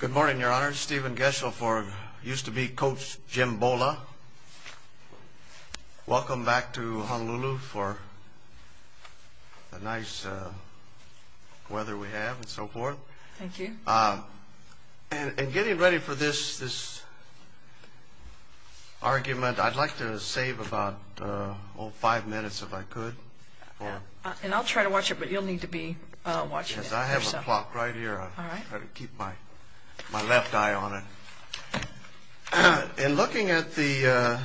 Good morning, Your Honor. Stephen Geschel for used-to-be coach Jim Bolla. Welcome back to Honolulu for the nice weather we have and so forth. Thank you. And getting ready for this argument, I'd like to save about five minutes if I could. And I'll try to watch it, but you'll need to be watching it. I have a clock right here. I'll try to keep my left eye on it. In looking at the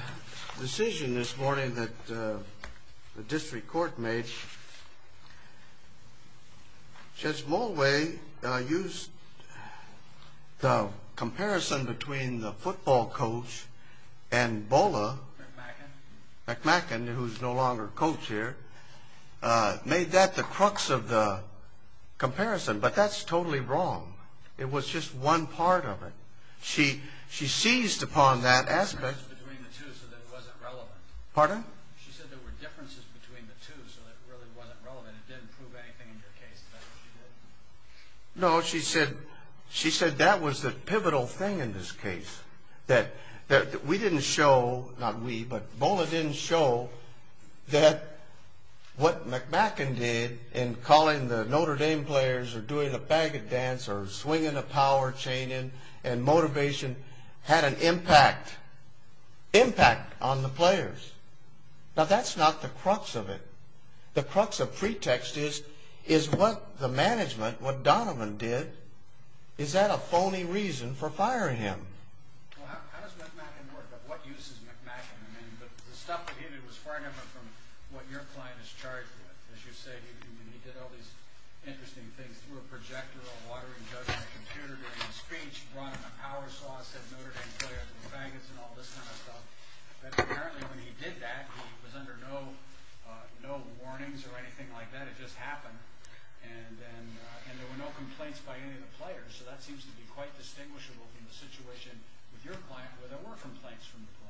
decision this morning that the district court made, Judge Mulway used the comparison between the football coach and Bolla, McMacken, who's no longer coach here, made that the crux of the comparison. But that's totally wrong. It was just one part of it. She seized upon that aspect. She said there were differences between the two, so it really wasn't relevant. It didn't prove anything in your case. No, she said that was the pivotal thing in this case. We didn't show, not we, but Bolla didn't show that what McMacken did in calling the Notre Dame players or doing a baguette dance or swinging a power chain and motivation had an impact on the players. Now, that's not the crux of it. The crux of pretext is what the management, what Donovan did, is that a phony reason for firing him? Well, how does McMacken work? What use is McMacken? The stuff that he did was far different from what your client is charged with. As you say, he did all these interesting things through a projector, a watering jug on a computer during a speech, brought in a power source, said Notre Dame players and baguettes and all this kind of stuff. Apparently, when he did that, he was under no warnings or anything like that. And there were no complaints by any of the players, so that seems to be quite distinguishable from the situation with your client where there were complaints from the players.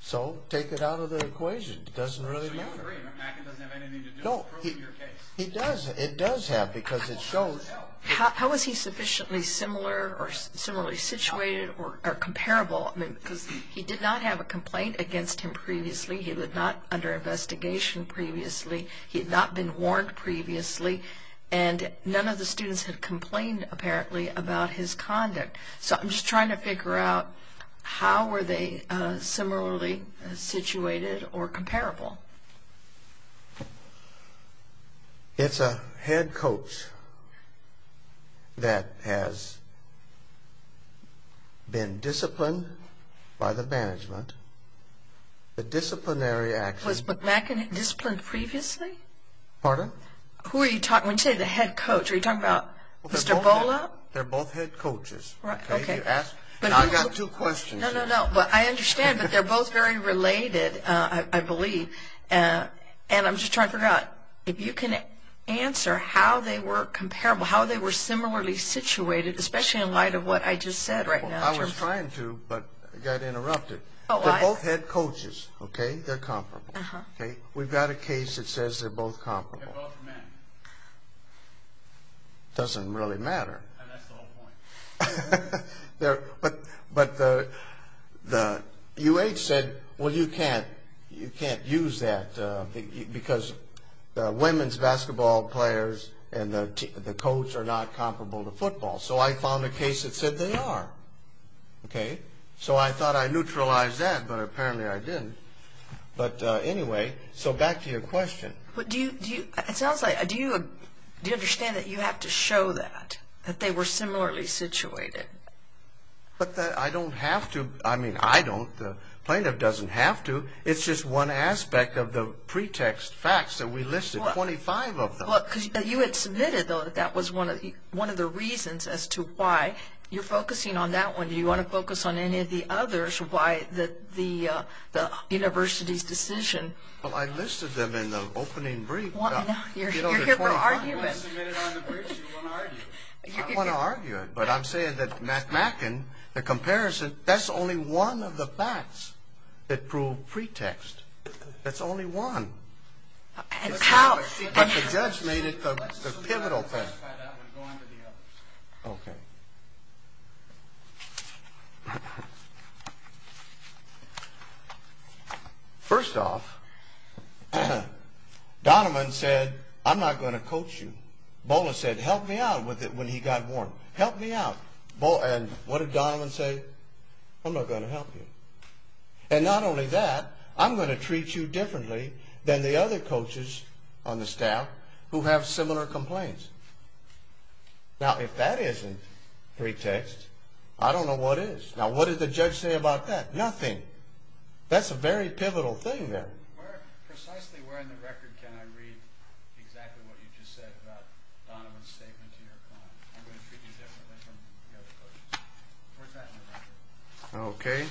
So, take it out of the equation. It doesn't really matter. So you agree, McMacken doesn't have anything to do with the truth of your case? No, he does. It does have because it shows. How is he sufficiently similar or similarly situated or comparable? Because he did not have a complaint against him previously. He was not under investigation previously. He had not been warned previously. And none of the students had complained, apparently, about his conduct. So I'm just trying to figure out how were they similarly situated or comparable? It's a head coach that has been disciplined by the management. The disciplinary action... Was McMacken disciplined previously? Pardon? Who are you talking, when you say the head coach, are you talking about Mr. Bola? They're both head coaches. Right, okay. And I've got two questions. No, no, no, but I understand, but they're both very related, I believe. And I'm just trying to figure out if you can answer how they were comparable, how they were similarly situated, especially in light of what I just said right now. I was trying to, but it got interrupted. They're both head coaches, okay? They're comparable, okay? We've got a case that says they're both comparable. They're both men. It doesn't really matter. That's the whole point. But the UH said, well, you can't use that because the women's basketball players and the coach are not comparable to football. So I found a case that said they are, okay? So I thought I neutralized that, but apparently I didn't. But anyway, so back to your question. It sounds like, do you understand that you have to show that, that they were similarly situated? But I don't have to. I mean, I don't. The plaintiff doesn't have to. It's just one aspect of the pretext facts that we listed, 25 of them. You had submitted, though, that that was one of the reasons as to why. You're focusing on that one. Do you want to focus on any of the others, why the university's decision? Well, I listed them in the opening brief. You're here for argument. You want to submit it on the briefs, you want to argue. I want to argue it, but I'm saying that MacMacken, the comparison, that's only one of the facts that prove pretext. That's only one. But the judge made it the pivotal thing. Okay. First off, Donovan said, I'm not going to coach you. Bola said, help me out with it when he got warm. Help me out. And what did Donovan say? I'm not going to help you. And not only that, I'm going to treat you differently than the other coaches on the staff who have similar complaints. Now, if that isn't pretext, I don't know what is. Now, what did the judge say about that? Nothing. That's a very pivotal thing there. Precisely where in the record can I read exactly what you just said about Donovan's statement to your client? I'm going to treat you differently than the other coaches. Where's that in the record? Okay.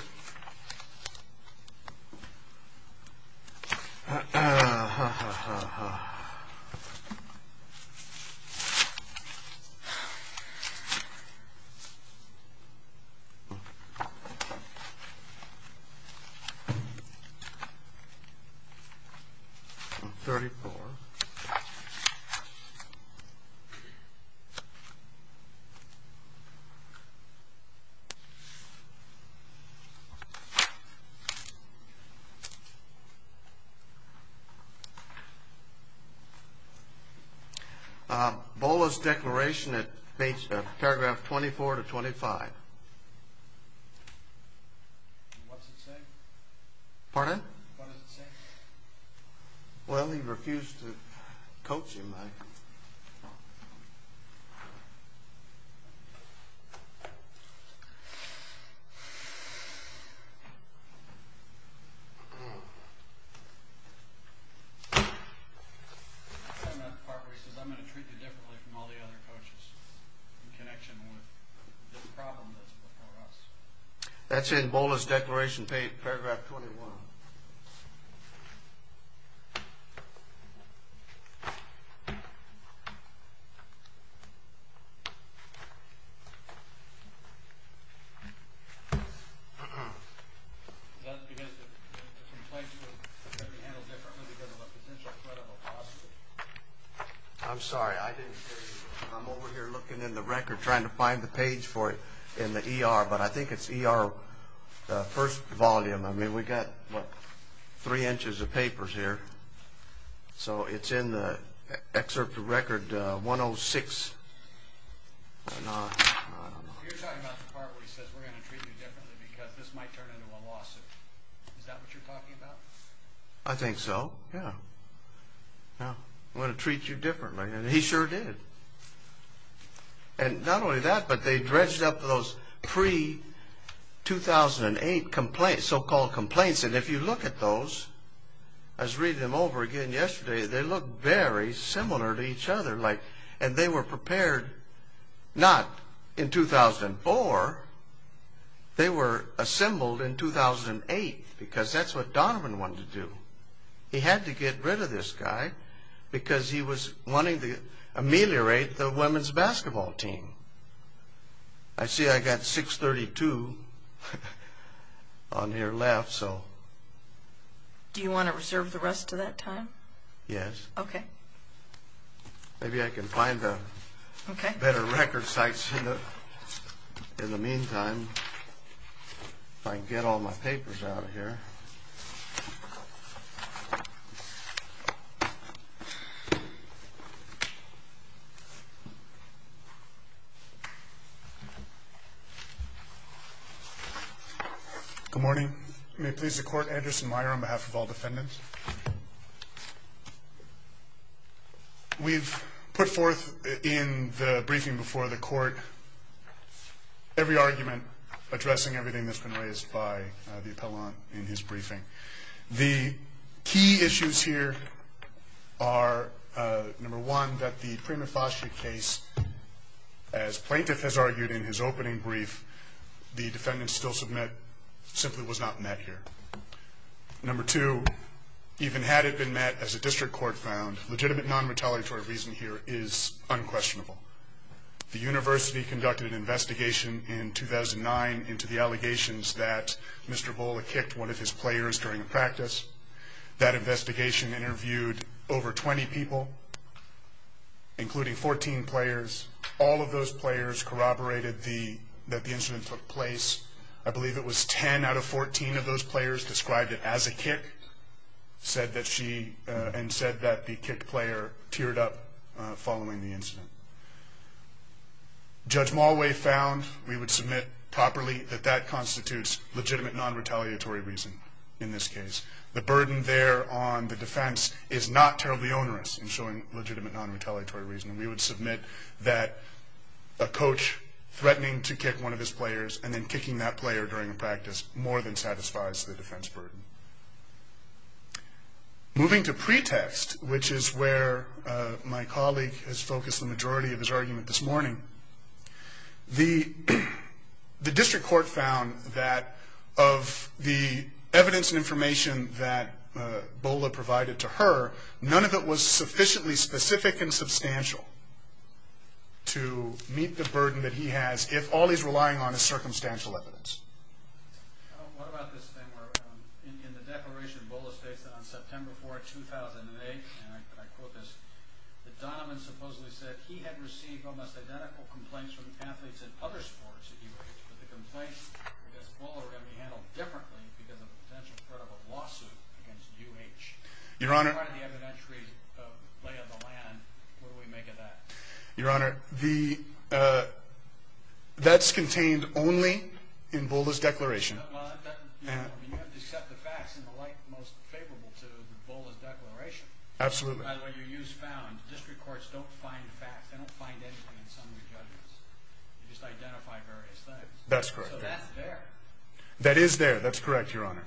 34. Bola's declaration, it meets paragraph 24 to 25. What's it say? Pardon? What does it say? Well, he refused to coach him. And that part where he says, I'm going to treat you differently from all the other coaches in connection with this problem that's before us. That's in Bola's declaration paragraph 21. I'm sorry, I didn't hear you. I'm over here looking in the record trying to find the page for it in the ER, but I think it's ER first volume. I mean, we've got, what, three inches of papers here. So it's in the excerpt of record 106. You're talking about the part where he says, we're going to treat you differently because this might turn into a lawsuit. Is that what you're talking about? I think so, yeah. I'm going to treat you differently, and he sure did. And not only that, but they dredged up those pre-2008 so-called complaints, and if you look at those, I was reading them over again yesterday, they look very similar to each other, and they were prepared not in 2004. They were assembled in 2008 because that's what Donovan wanted to do. He had to get rid of this guy because he was wanting to ameliorate the women's basketball team. I see I got 632 on your left, so. Do you want to reserve the rest of that time? Yes. Okay. Maybe I can find better record sites in the meantime, if I can get all my papers out of here. Good morning. May it please the Court, Anderson Meyer on behalf of all defendants. We've put forth in the briefing before the Court every argument addressing everything that's been raised by the appellant in his briefing. The key issues here are, number one, that the Prima Facie case, as Plaintiff has argued in his opening brief, the defendants still submit simply was not met here. Number two, even had it been met, as the District Court found, legitimate non-retaliatory reason here is unquestionable. The University conducted an investigation in 2009 into the allegations that Mr. Bola kicked one of his players during a practice. That investigation interviewed over 20 people, including 14 players. All of those players corroborated that the incident took place. I believe it was 10 out of 14 of those players described it as a kick and said that the kicked player teared up following the incident. Judge Malway found, we would submit properly, that that constitutes legitimate non-retaliatory reason in this case. The burden there on the defense is not terribly onerous in showing legitimate non-retaliatory reason. We would submit that a coach threatening to kick one of his players and then kicking that player during a practice more than satisfies the defense burden. Moving to pretext, which is where my colleague has focused the majority of his argument this morning, the District Court found that of the evidence and information that Bola provided to her, none of it was sufficiently specific and substantial to meet the burden that he has if all he's relying on is circumstantial evidence. What about this thing where in the declaration Bola states that on September 4, 2008, and I quote this, that Donovan supposedly said he had received almost identical complaints from athletes in other sports at UH, but the complaints against Bola were going to be handled differently because of a potential credible lawsuit against UH. Your Honor. In light of the evidentiary lay of the land, what do we make of that? Your Honor, that's contained only in Bola's declaration. You have to accept the facts in the light most favorable to Bola's declaration. Absolutely. When you use found, District Courts don't find facts. They don't find anything in some of the judgments. They just identify various things. That's correct. So that's there. That is there. That's correct, Your Honor.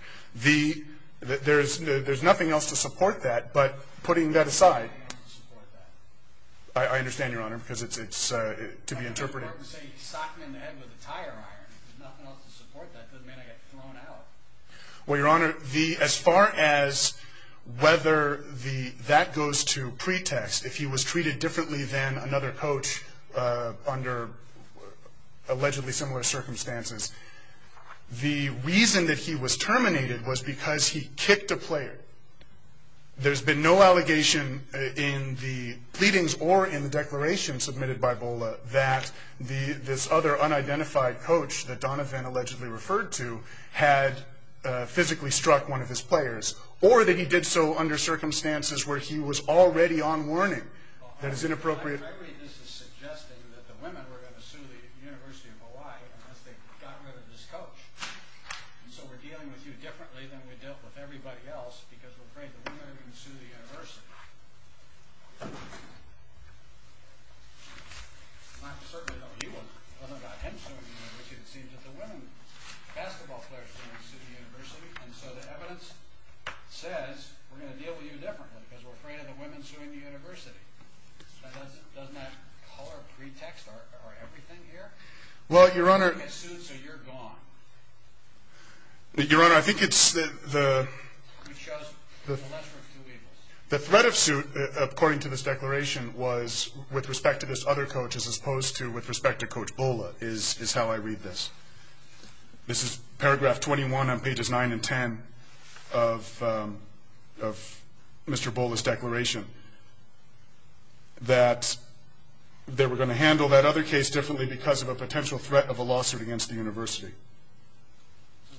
There's nothing else to support that, but putting that aside. There's nothing else to support that. I understand, Your Honor, because it's to be interpreted. I thought you were going to say he socked me in the head with a tire iron. There's nothing else to support that. It doesn't mean I get thrown out. Well, Your Honor, as far as whether that goes to pretext, if he was treated differently than another coach under allegedly similar circumstances, the reason that he was terminated was because he kicked a player. There's been no allegation in the pleadings or in the declaration submitted by Bola that this other unidentified coach that Donovan allegedly referred to had physically struck one of his players, or that he did so under circumstances where he was already on warning. That is inappropriate. I read this as suggesting that the women were going to sue the University of Hawaii unless they got rid of this coach. So we're dealing with you differently than we dealt with everybody else because we're afraid the women are going to sue the university. I'm not certain that you were. It wasn't about him suing the university. It seemed that the women basketball players were going to sue the university. And so the evidence says we're going to deal with you differently because we're afraid of the women suing the university. Doesn't that color pretext our everything here? Well, Your Honor. Your Honor, I think it's the threat of suit, according to this declaration, was with respect to this other coach as opposed to with respect to Coach Bola is how I read this. This is paragraph 21 on pages 9 and 10 of Mr. Bola's declaration that they were going to handle that other case differently because of a potential threat of a lawsuit against the university.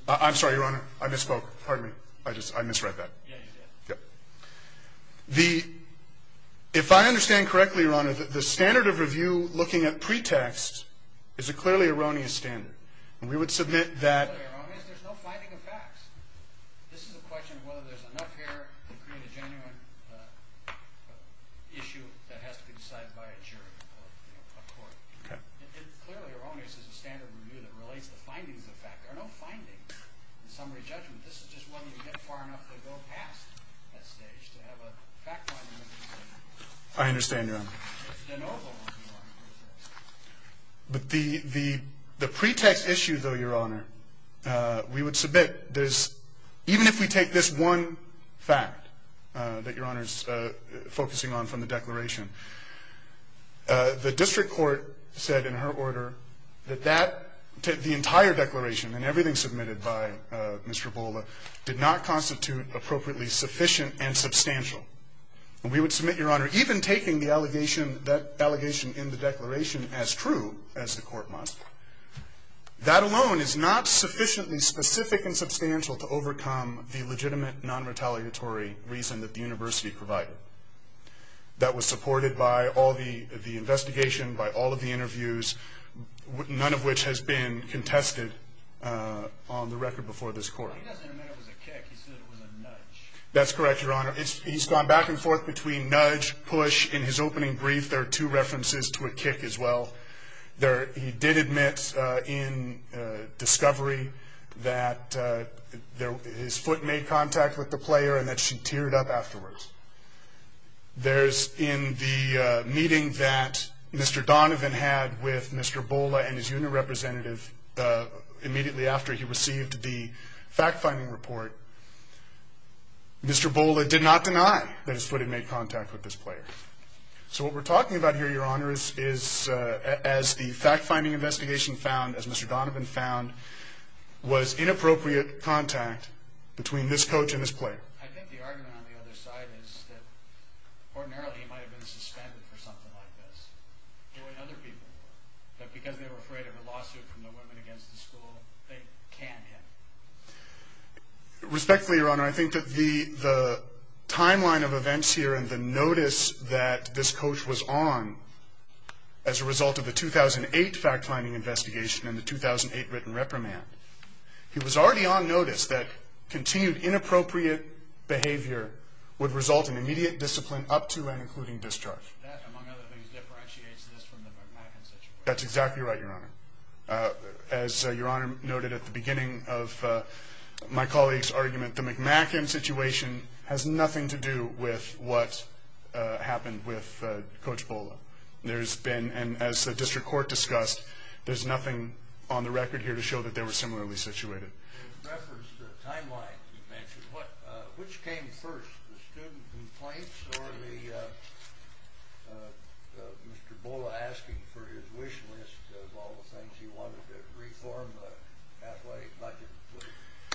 I'm sorry, Your Honor. I misspoke. Pardon me. I misread that. Yeah, you did. Yep. If I understand correctly, Your Honor, the standard of review looking at pretext is a clearly erroneous standard. And we would submit that... There's no finding of facts. This is a question of whether there's enough here to create a genuine issue that has to be decided by a jury, a court. Okay. It's clearly erroneous as a standard review that relates to findings of fact. There are no findings in summary judgment. This is just whether you get far enough to go past that stage to have a fact-finding... I understand, Your Honor. It's de novo, Your Honor. But the pretext issue, though, Your Honor, we would submit even if we take this one fact that Your Honor is focusing on from the declaration, the district court said in her order that the entire declaration and everything submitted by Mr. Bola did not constitute appropriately sufficient and substantial. And we would submit, Your Honor, even taking that allegation in the declaration as true as the court must, that alone is not sufficiently specific and substantial to overcome the legitimate, non-retaliatory reason that the university provided. That was supported by all the investigation, by all of the interviews, none of which has been contested on the record before this court. He doesn't admit it was a kick. He said it was a nudge. That's correct, Your Honor. He's gone back and forth between nudge, push. In his opening brief, there are two references to a kick as well. He did admit in discovery that his foot made contact with the player and that she teared up afterwards. There's in the meeting that Mr. Donovan had with Mr. Bola and his union representative immediately after he received the fact-finding report, Mr. Bola did not deny that his foot had made contact with this player. So what we're talking about here, Your Honor, is as the fact-finding investigation found, as Mr. Donovan found, was inappropriate contact between this coach and this player. Respectfully, Your Honor, I think that the timeline of events here and the notice that this coach was on as a result of the 2008 fact-finding investigation and the 2008 written reprimand, he was already on notice that continued inappropriate behavior would result in immediate discipline up to and including discharge. That's exactly right, Your Honor. As Your Honor noted at the beginning of my colleague's argument, the McMacken situation has nothing to do with what happened with Coach Bola. There's been, and as the district court discussed, there's nothing on the record here to show that they were similarly situated.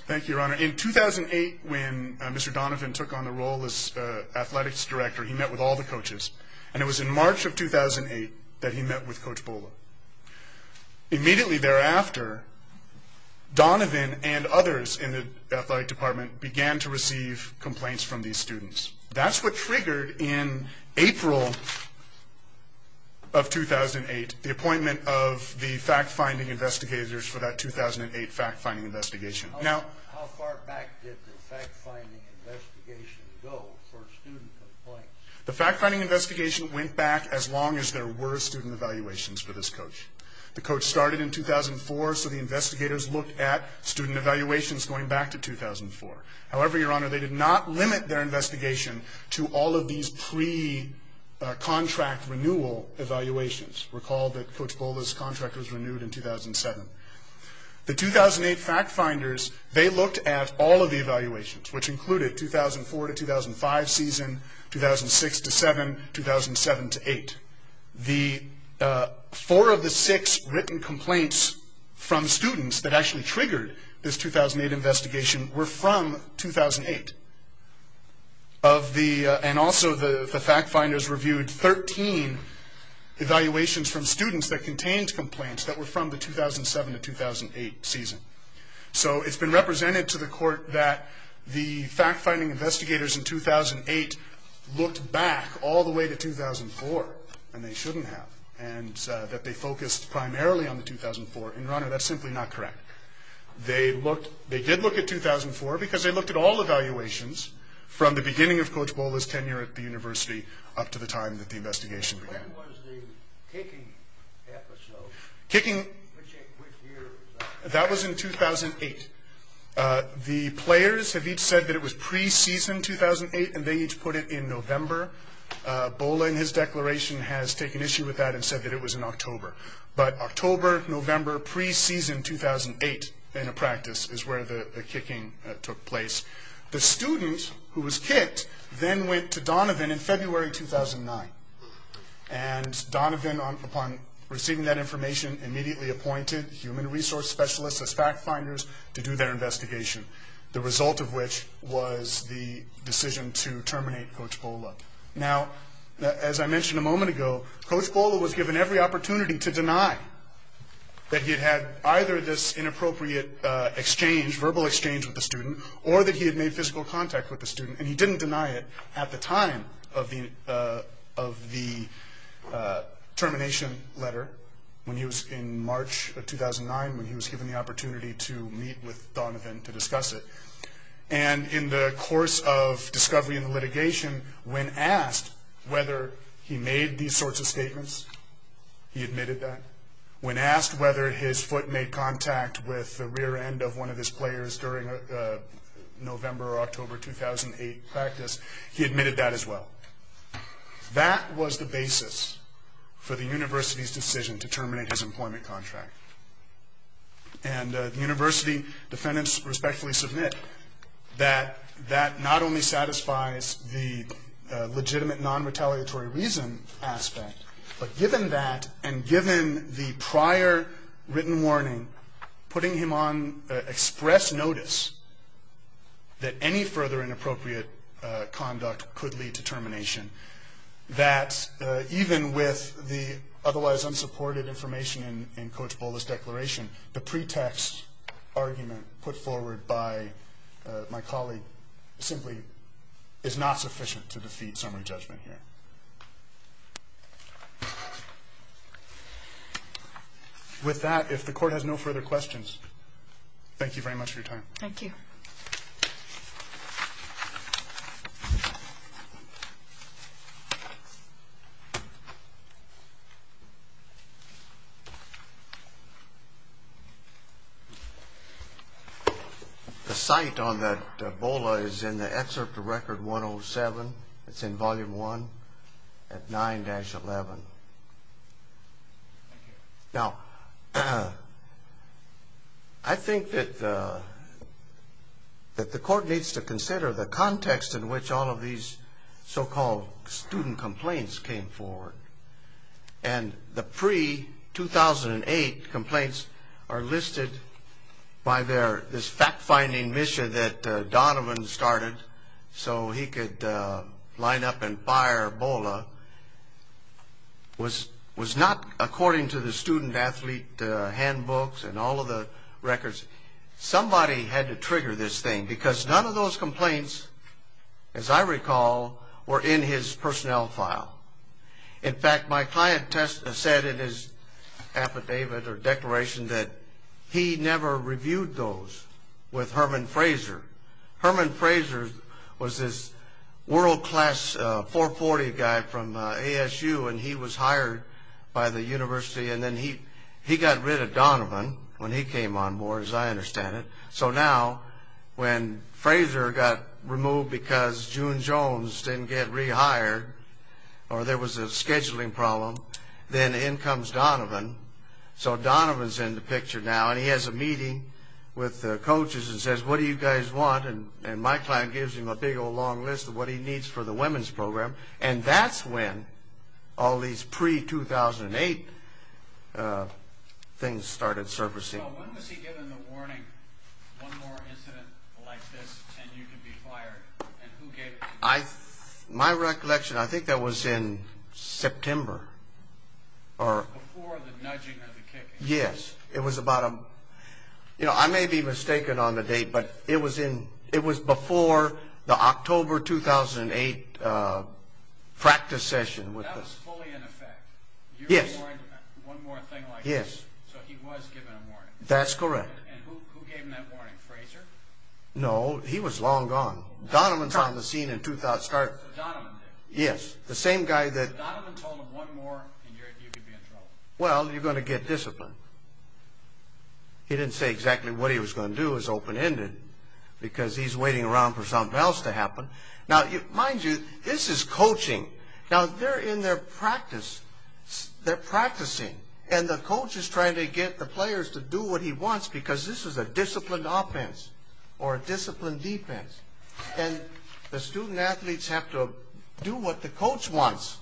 Thank you, Your Honor. In 2008, when Mr. Donovan took on the role as athletics director, he met with all the coaches, and it was in March of 2008 that he met with Coach Bola. Immediately thereafter, Donovan and others in the athletic department began to receive complaints from these students. That's what triggered, in April of 2008, the appointment of the fact-finding investigators for that 2008 fact-finding investigation. How far back did the fact-finding investigation go for student complaints? The fact-finding investigation went back as long as there were student evaluations for this coach. The coach started in 2004, so the investigators looked at student evaluations going back to 2004. However, Your Honor, they did not limit their investigation to all of these pre-contract renewal evaluations. Recall that Coach Bola's contract was renewed in 2007. The 2008 fact-finders, they looked at all of the evaluations, which included 2004-2005 season, 2006-2007, 2007-2008. Four of the six written complaints from students that actually triggered this 2008 investigation were from 2008. Also, the fact-finders reviewed 13 evaluations from students that contained complaints that were from the 2007-2008 season. So, it's been represented to the court that the fact-finding investigators in 2008 looked back all the way to 2004, and they shouldn't have, and that they focused primarily on the 2004. And, Your Honor, that's simply not correct. They did look at 2004, because they looked at all evaluations from the beginning of Coach Bola's tenure at the university up to the time that the investigation began. When was the kicking episode? Kicking? Which year was that? That was in 2008. The players have each said that it was pre-season 2008, and they each put it in November. Bola, in his declaration, has taken issue with that and said that it was in October. But October, November, pre-season 2008 in a practice is where the kicking took place. The student who was kicked then went to Donovan in February 2009. And Donovan, upon receiving that information, immediately appointed human resource specialists as fact-finders to do their investigation, the result of which was the decision to terminate Coach Bola. Now, as I mentioned a moment ago, Coach Bola was given every opportunity to deny that he had had either this inappropriate exchange, verbal exchange with the student, or that he had made physical contact with the student, and he didn't deny it at the time of the termination letter, when he was in March of 2009, when he was given the opportunity to meet with Donovan to discuss it. And in the course of discovery and litigation, when asked whether he made these sorts of statements, he admitted that. When asked whether his foot made contact with the rear end of one of his players during a November or October 2008 practice, he admitted that as well. That was the basis for the university's decision to terminate his employment contract. And the university defendants respectfully submit that that not only satisfies the legitimate non-retaliatory reason aspect, but given that, and given the prior written warning, putting him on express notice that any further inappropriate conduct could lead to termination, that even with the otherwise unsupported information in Coach Bola's declaration, the pretext argument put forward by my colleague simply is not sufficient to defeat summary judgment here. With that, if the Court has no further questions, thank you very much for your time. Thank you. The cite on that Bola is in the excerpt to Record 107. It's in Volume 1. At 9-11. Now, I think that the Court needs to consider the context in which all of these so-called student complaints came forward. And the pre-2008 complaints are listed by this fact-finding mission that Donovan started so he could line up and fire Bola, was not according to the student-athlete handbooks and all of the records. Somebody had to trigger this thing because none of those complaints, as I recall, were in his personnel file. In fact, my client said in his affidavit or declaration that he never reviewed those with Herman Fraser. Herman Fraser was this world-class 440 guy from ASU and he was hired by the university and then he got rid of Donovan when he came on board, as I understand it. So now, when Fraser got removed because June Jones didn't get rehired or there was a scheduling problem, then in comes Donovan. So Donovan's in the picture now and he has a meeting with the coaches and says, what do you guys want? And my client gives him a big old long list of what he needs for the women's program. And that's when all these pre-2008 things started surfacing. So when was he given the warning, one more incident like this and you could be fired? And who gave it to you? My recollection, I think that was in September. Before the nudging or the kicking? Yes. I may be mistaken on the date, but it was before the October 2008 practice session. That was fully in effect? Yes. One more thing like this? Yes. So he was given a warning? That's correct. And who gave him that warning, Fraser? No, he was long gone. Donovan's on the scene in 2000. Donovan did? Yes. Donovan told him one more and you could be in trouble? Well, you're going to get disciplined. He didn't say exactly what he was going to do is open-ended because he's waiting around for something else to happen. Now, mind you, this is coaching. Now, they're in their practice. They're practicing. And the coach is trying to get the players to do what he wants because this is a disciplined offense or a disciplined defense. And the student athletes have to do what the coach wants.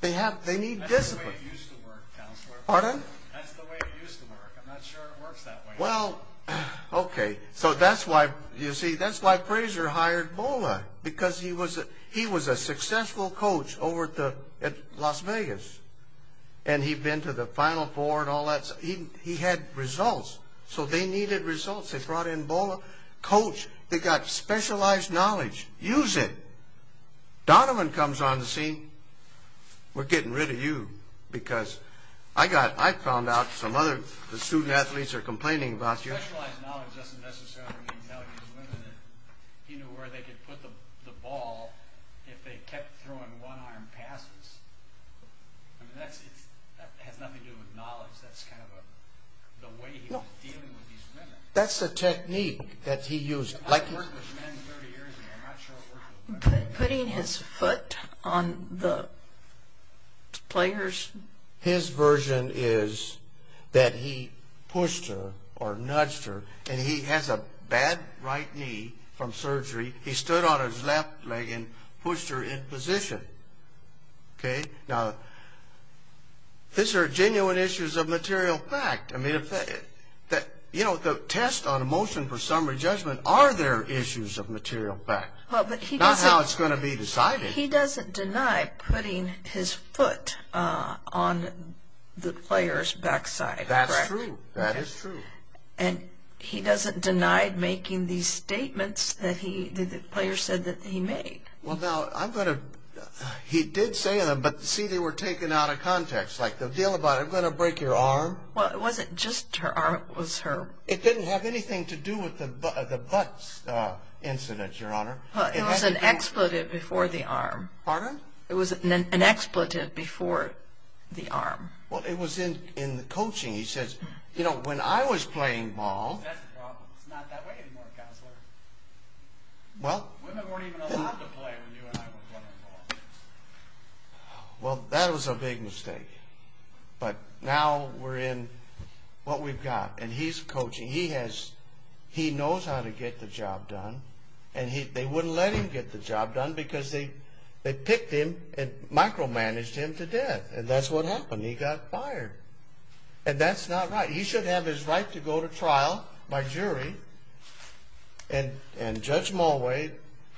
They need discipline. That's the way it used to work, Counselor. Pardon? That's the way it used to work. I'm not sure it works that way. Well, okay. So that's why, you see, that's why Fraser hired Bola because he was a successful coach over at Las Vegas, and he'd been to the Final Four and all that. He had results, so they needed results. They brought in Bola, coach. They got specialized knowledge. Use it. Donovan comes on the scene. We're getting rid of you because I found out some other student athletes are complaining about you. Specialized knowledge doesn't necessarily mean knowing these women. He knew where they could put the ball if they kept throwing one-arm passes. I mean, that has nothing to do with knowledge. That's kind of the way he was dealing with these women. That's the technique that he used. I've worked with men 30 years, and I'm not sure it works that way. Putting his foot on the players. His version is that he pushed her or nudged her, and he has a bad right knee from surgery. He stood on his left leg and pushed her in position. Now, these are genuine issues of material fact. You know, the test on a motion for summary judgment, are there issues of material fact? Not how it's going to be decided. He doesn't deny putting his foot on the player's backside. That's true. That is true. And he doesn't deny making these statements that the player said that he made. Well, now, he did say them, but see, they were taken out of context. Like the deal about, I'm going to break your arm. Well, it wasn't just her arm. It didn't have anything to do with the butt incident, Your Honor. It was an expletive before the arm. Pardon? It was an expletive before the arm. Well, it was in the coaching. He says, you know, when I was playing ball. That's the problem. It's not that way anymore, Counselor. Women weren't even allowed to play when you and I were playing ball. Well, that was a big mistake. But now we're in what we've got. And he's coaching. He knows how to get the job done. And they wouldn't let him get the job done because they picked him and micromanaged him to death. And that's what happened. He got fired. And that's not right. He should have his right to go to trial by jury. And Judge Mulway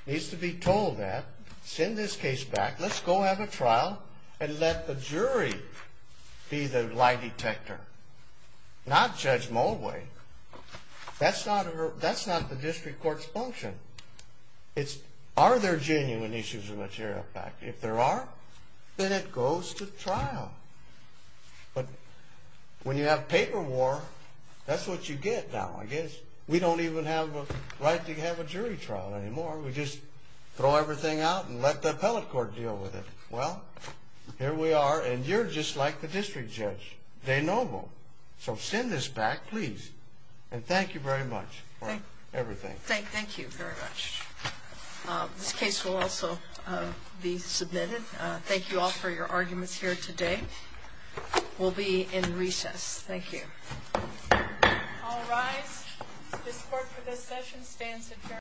needs to be told that. Send this case back. Let's go have a trial and let the jury be the lie detector, not Judge Mulway. That's not the district court's function. It's are there genuine issues of material fact. If there are, then it goes to trial. But when you have paper war, that's what you get now. I guess we don't even have a right to have a jury trial anymore. We just throw everything out and let the appellate court deal with it. Well, here we are. And you're just like the district judge. De novo. So send this back, please. And thank you very much for everything. Thank you very much. This case will also be submitted. Thank you all for your arguments here today. We'll be in recess. Thank you. All rise. This court for this session stands adjourned.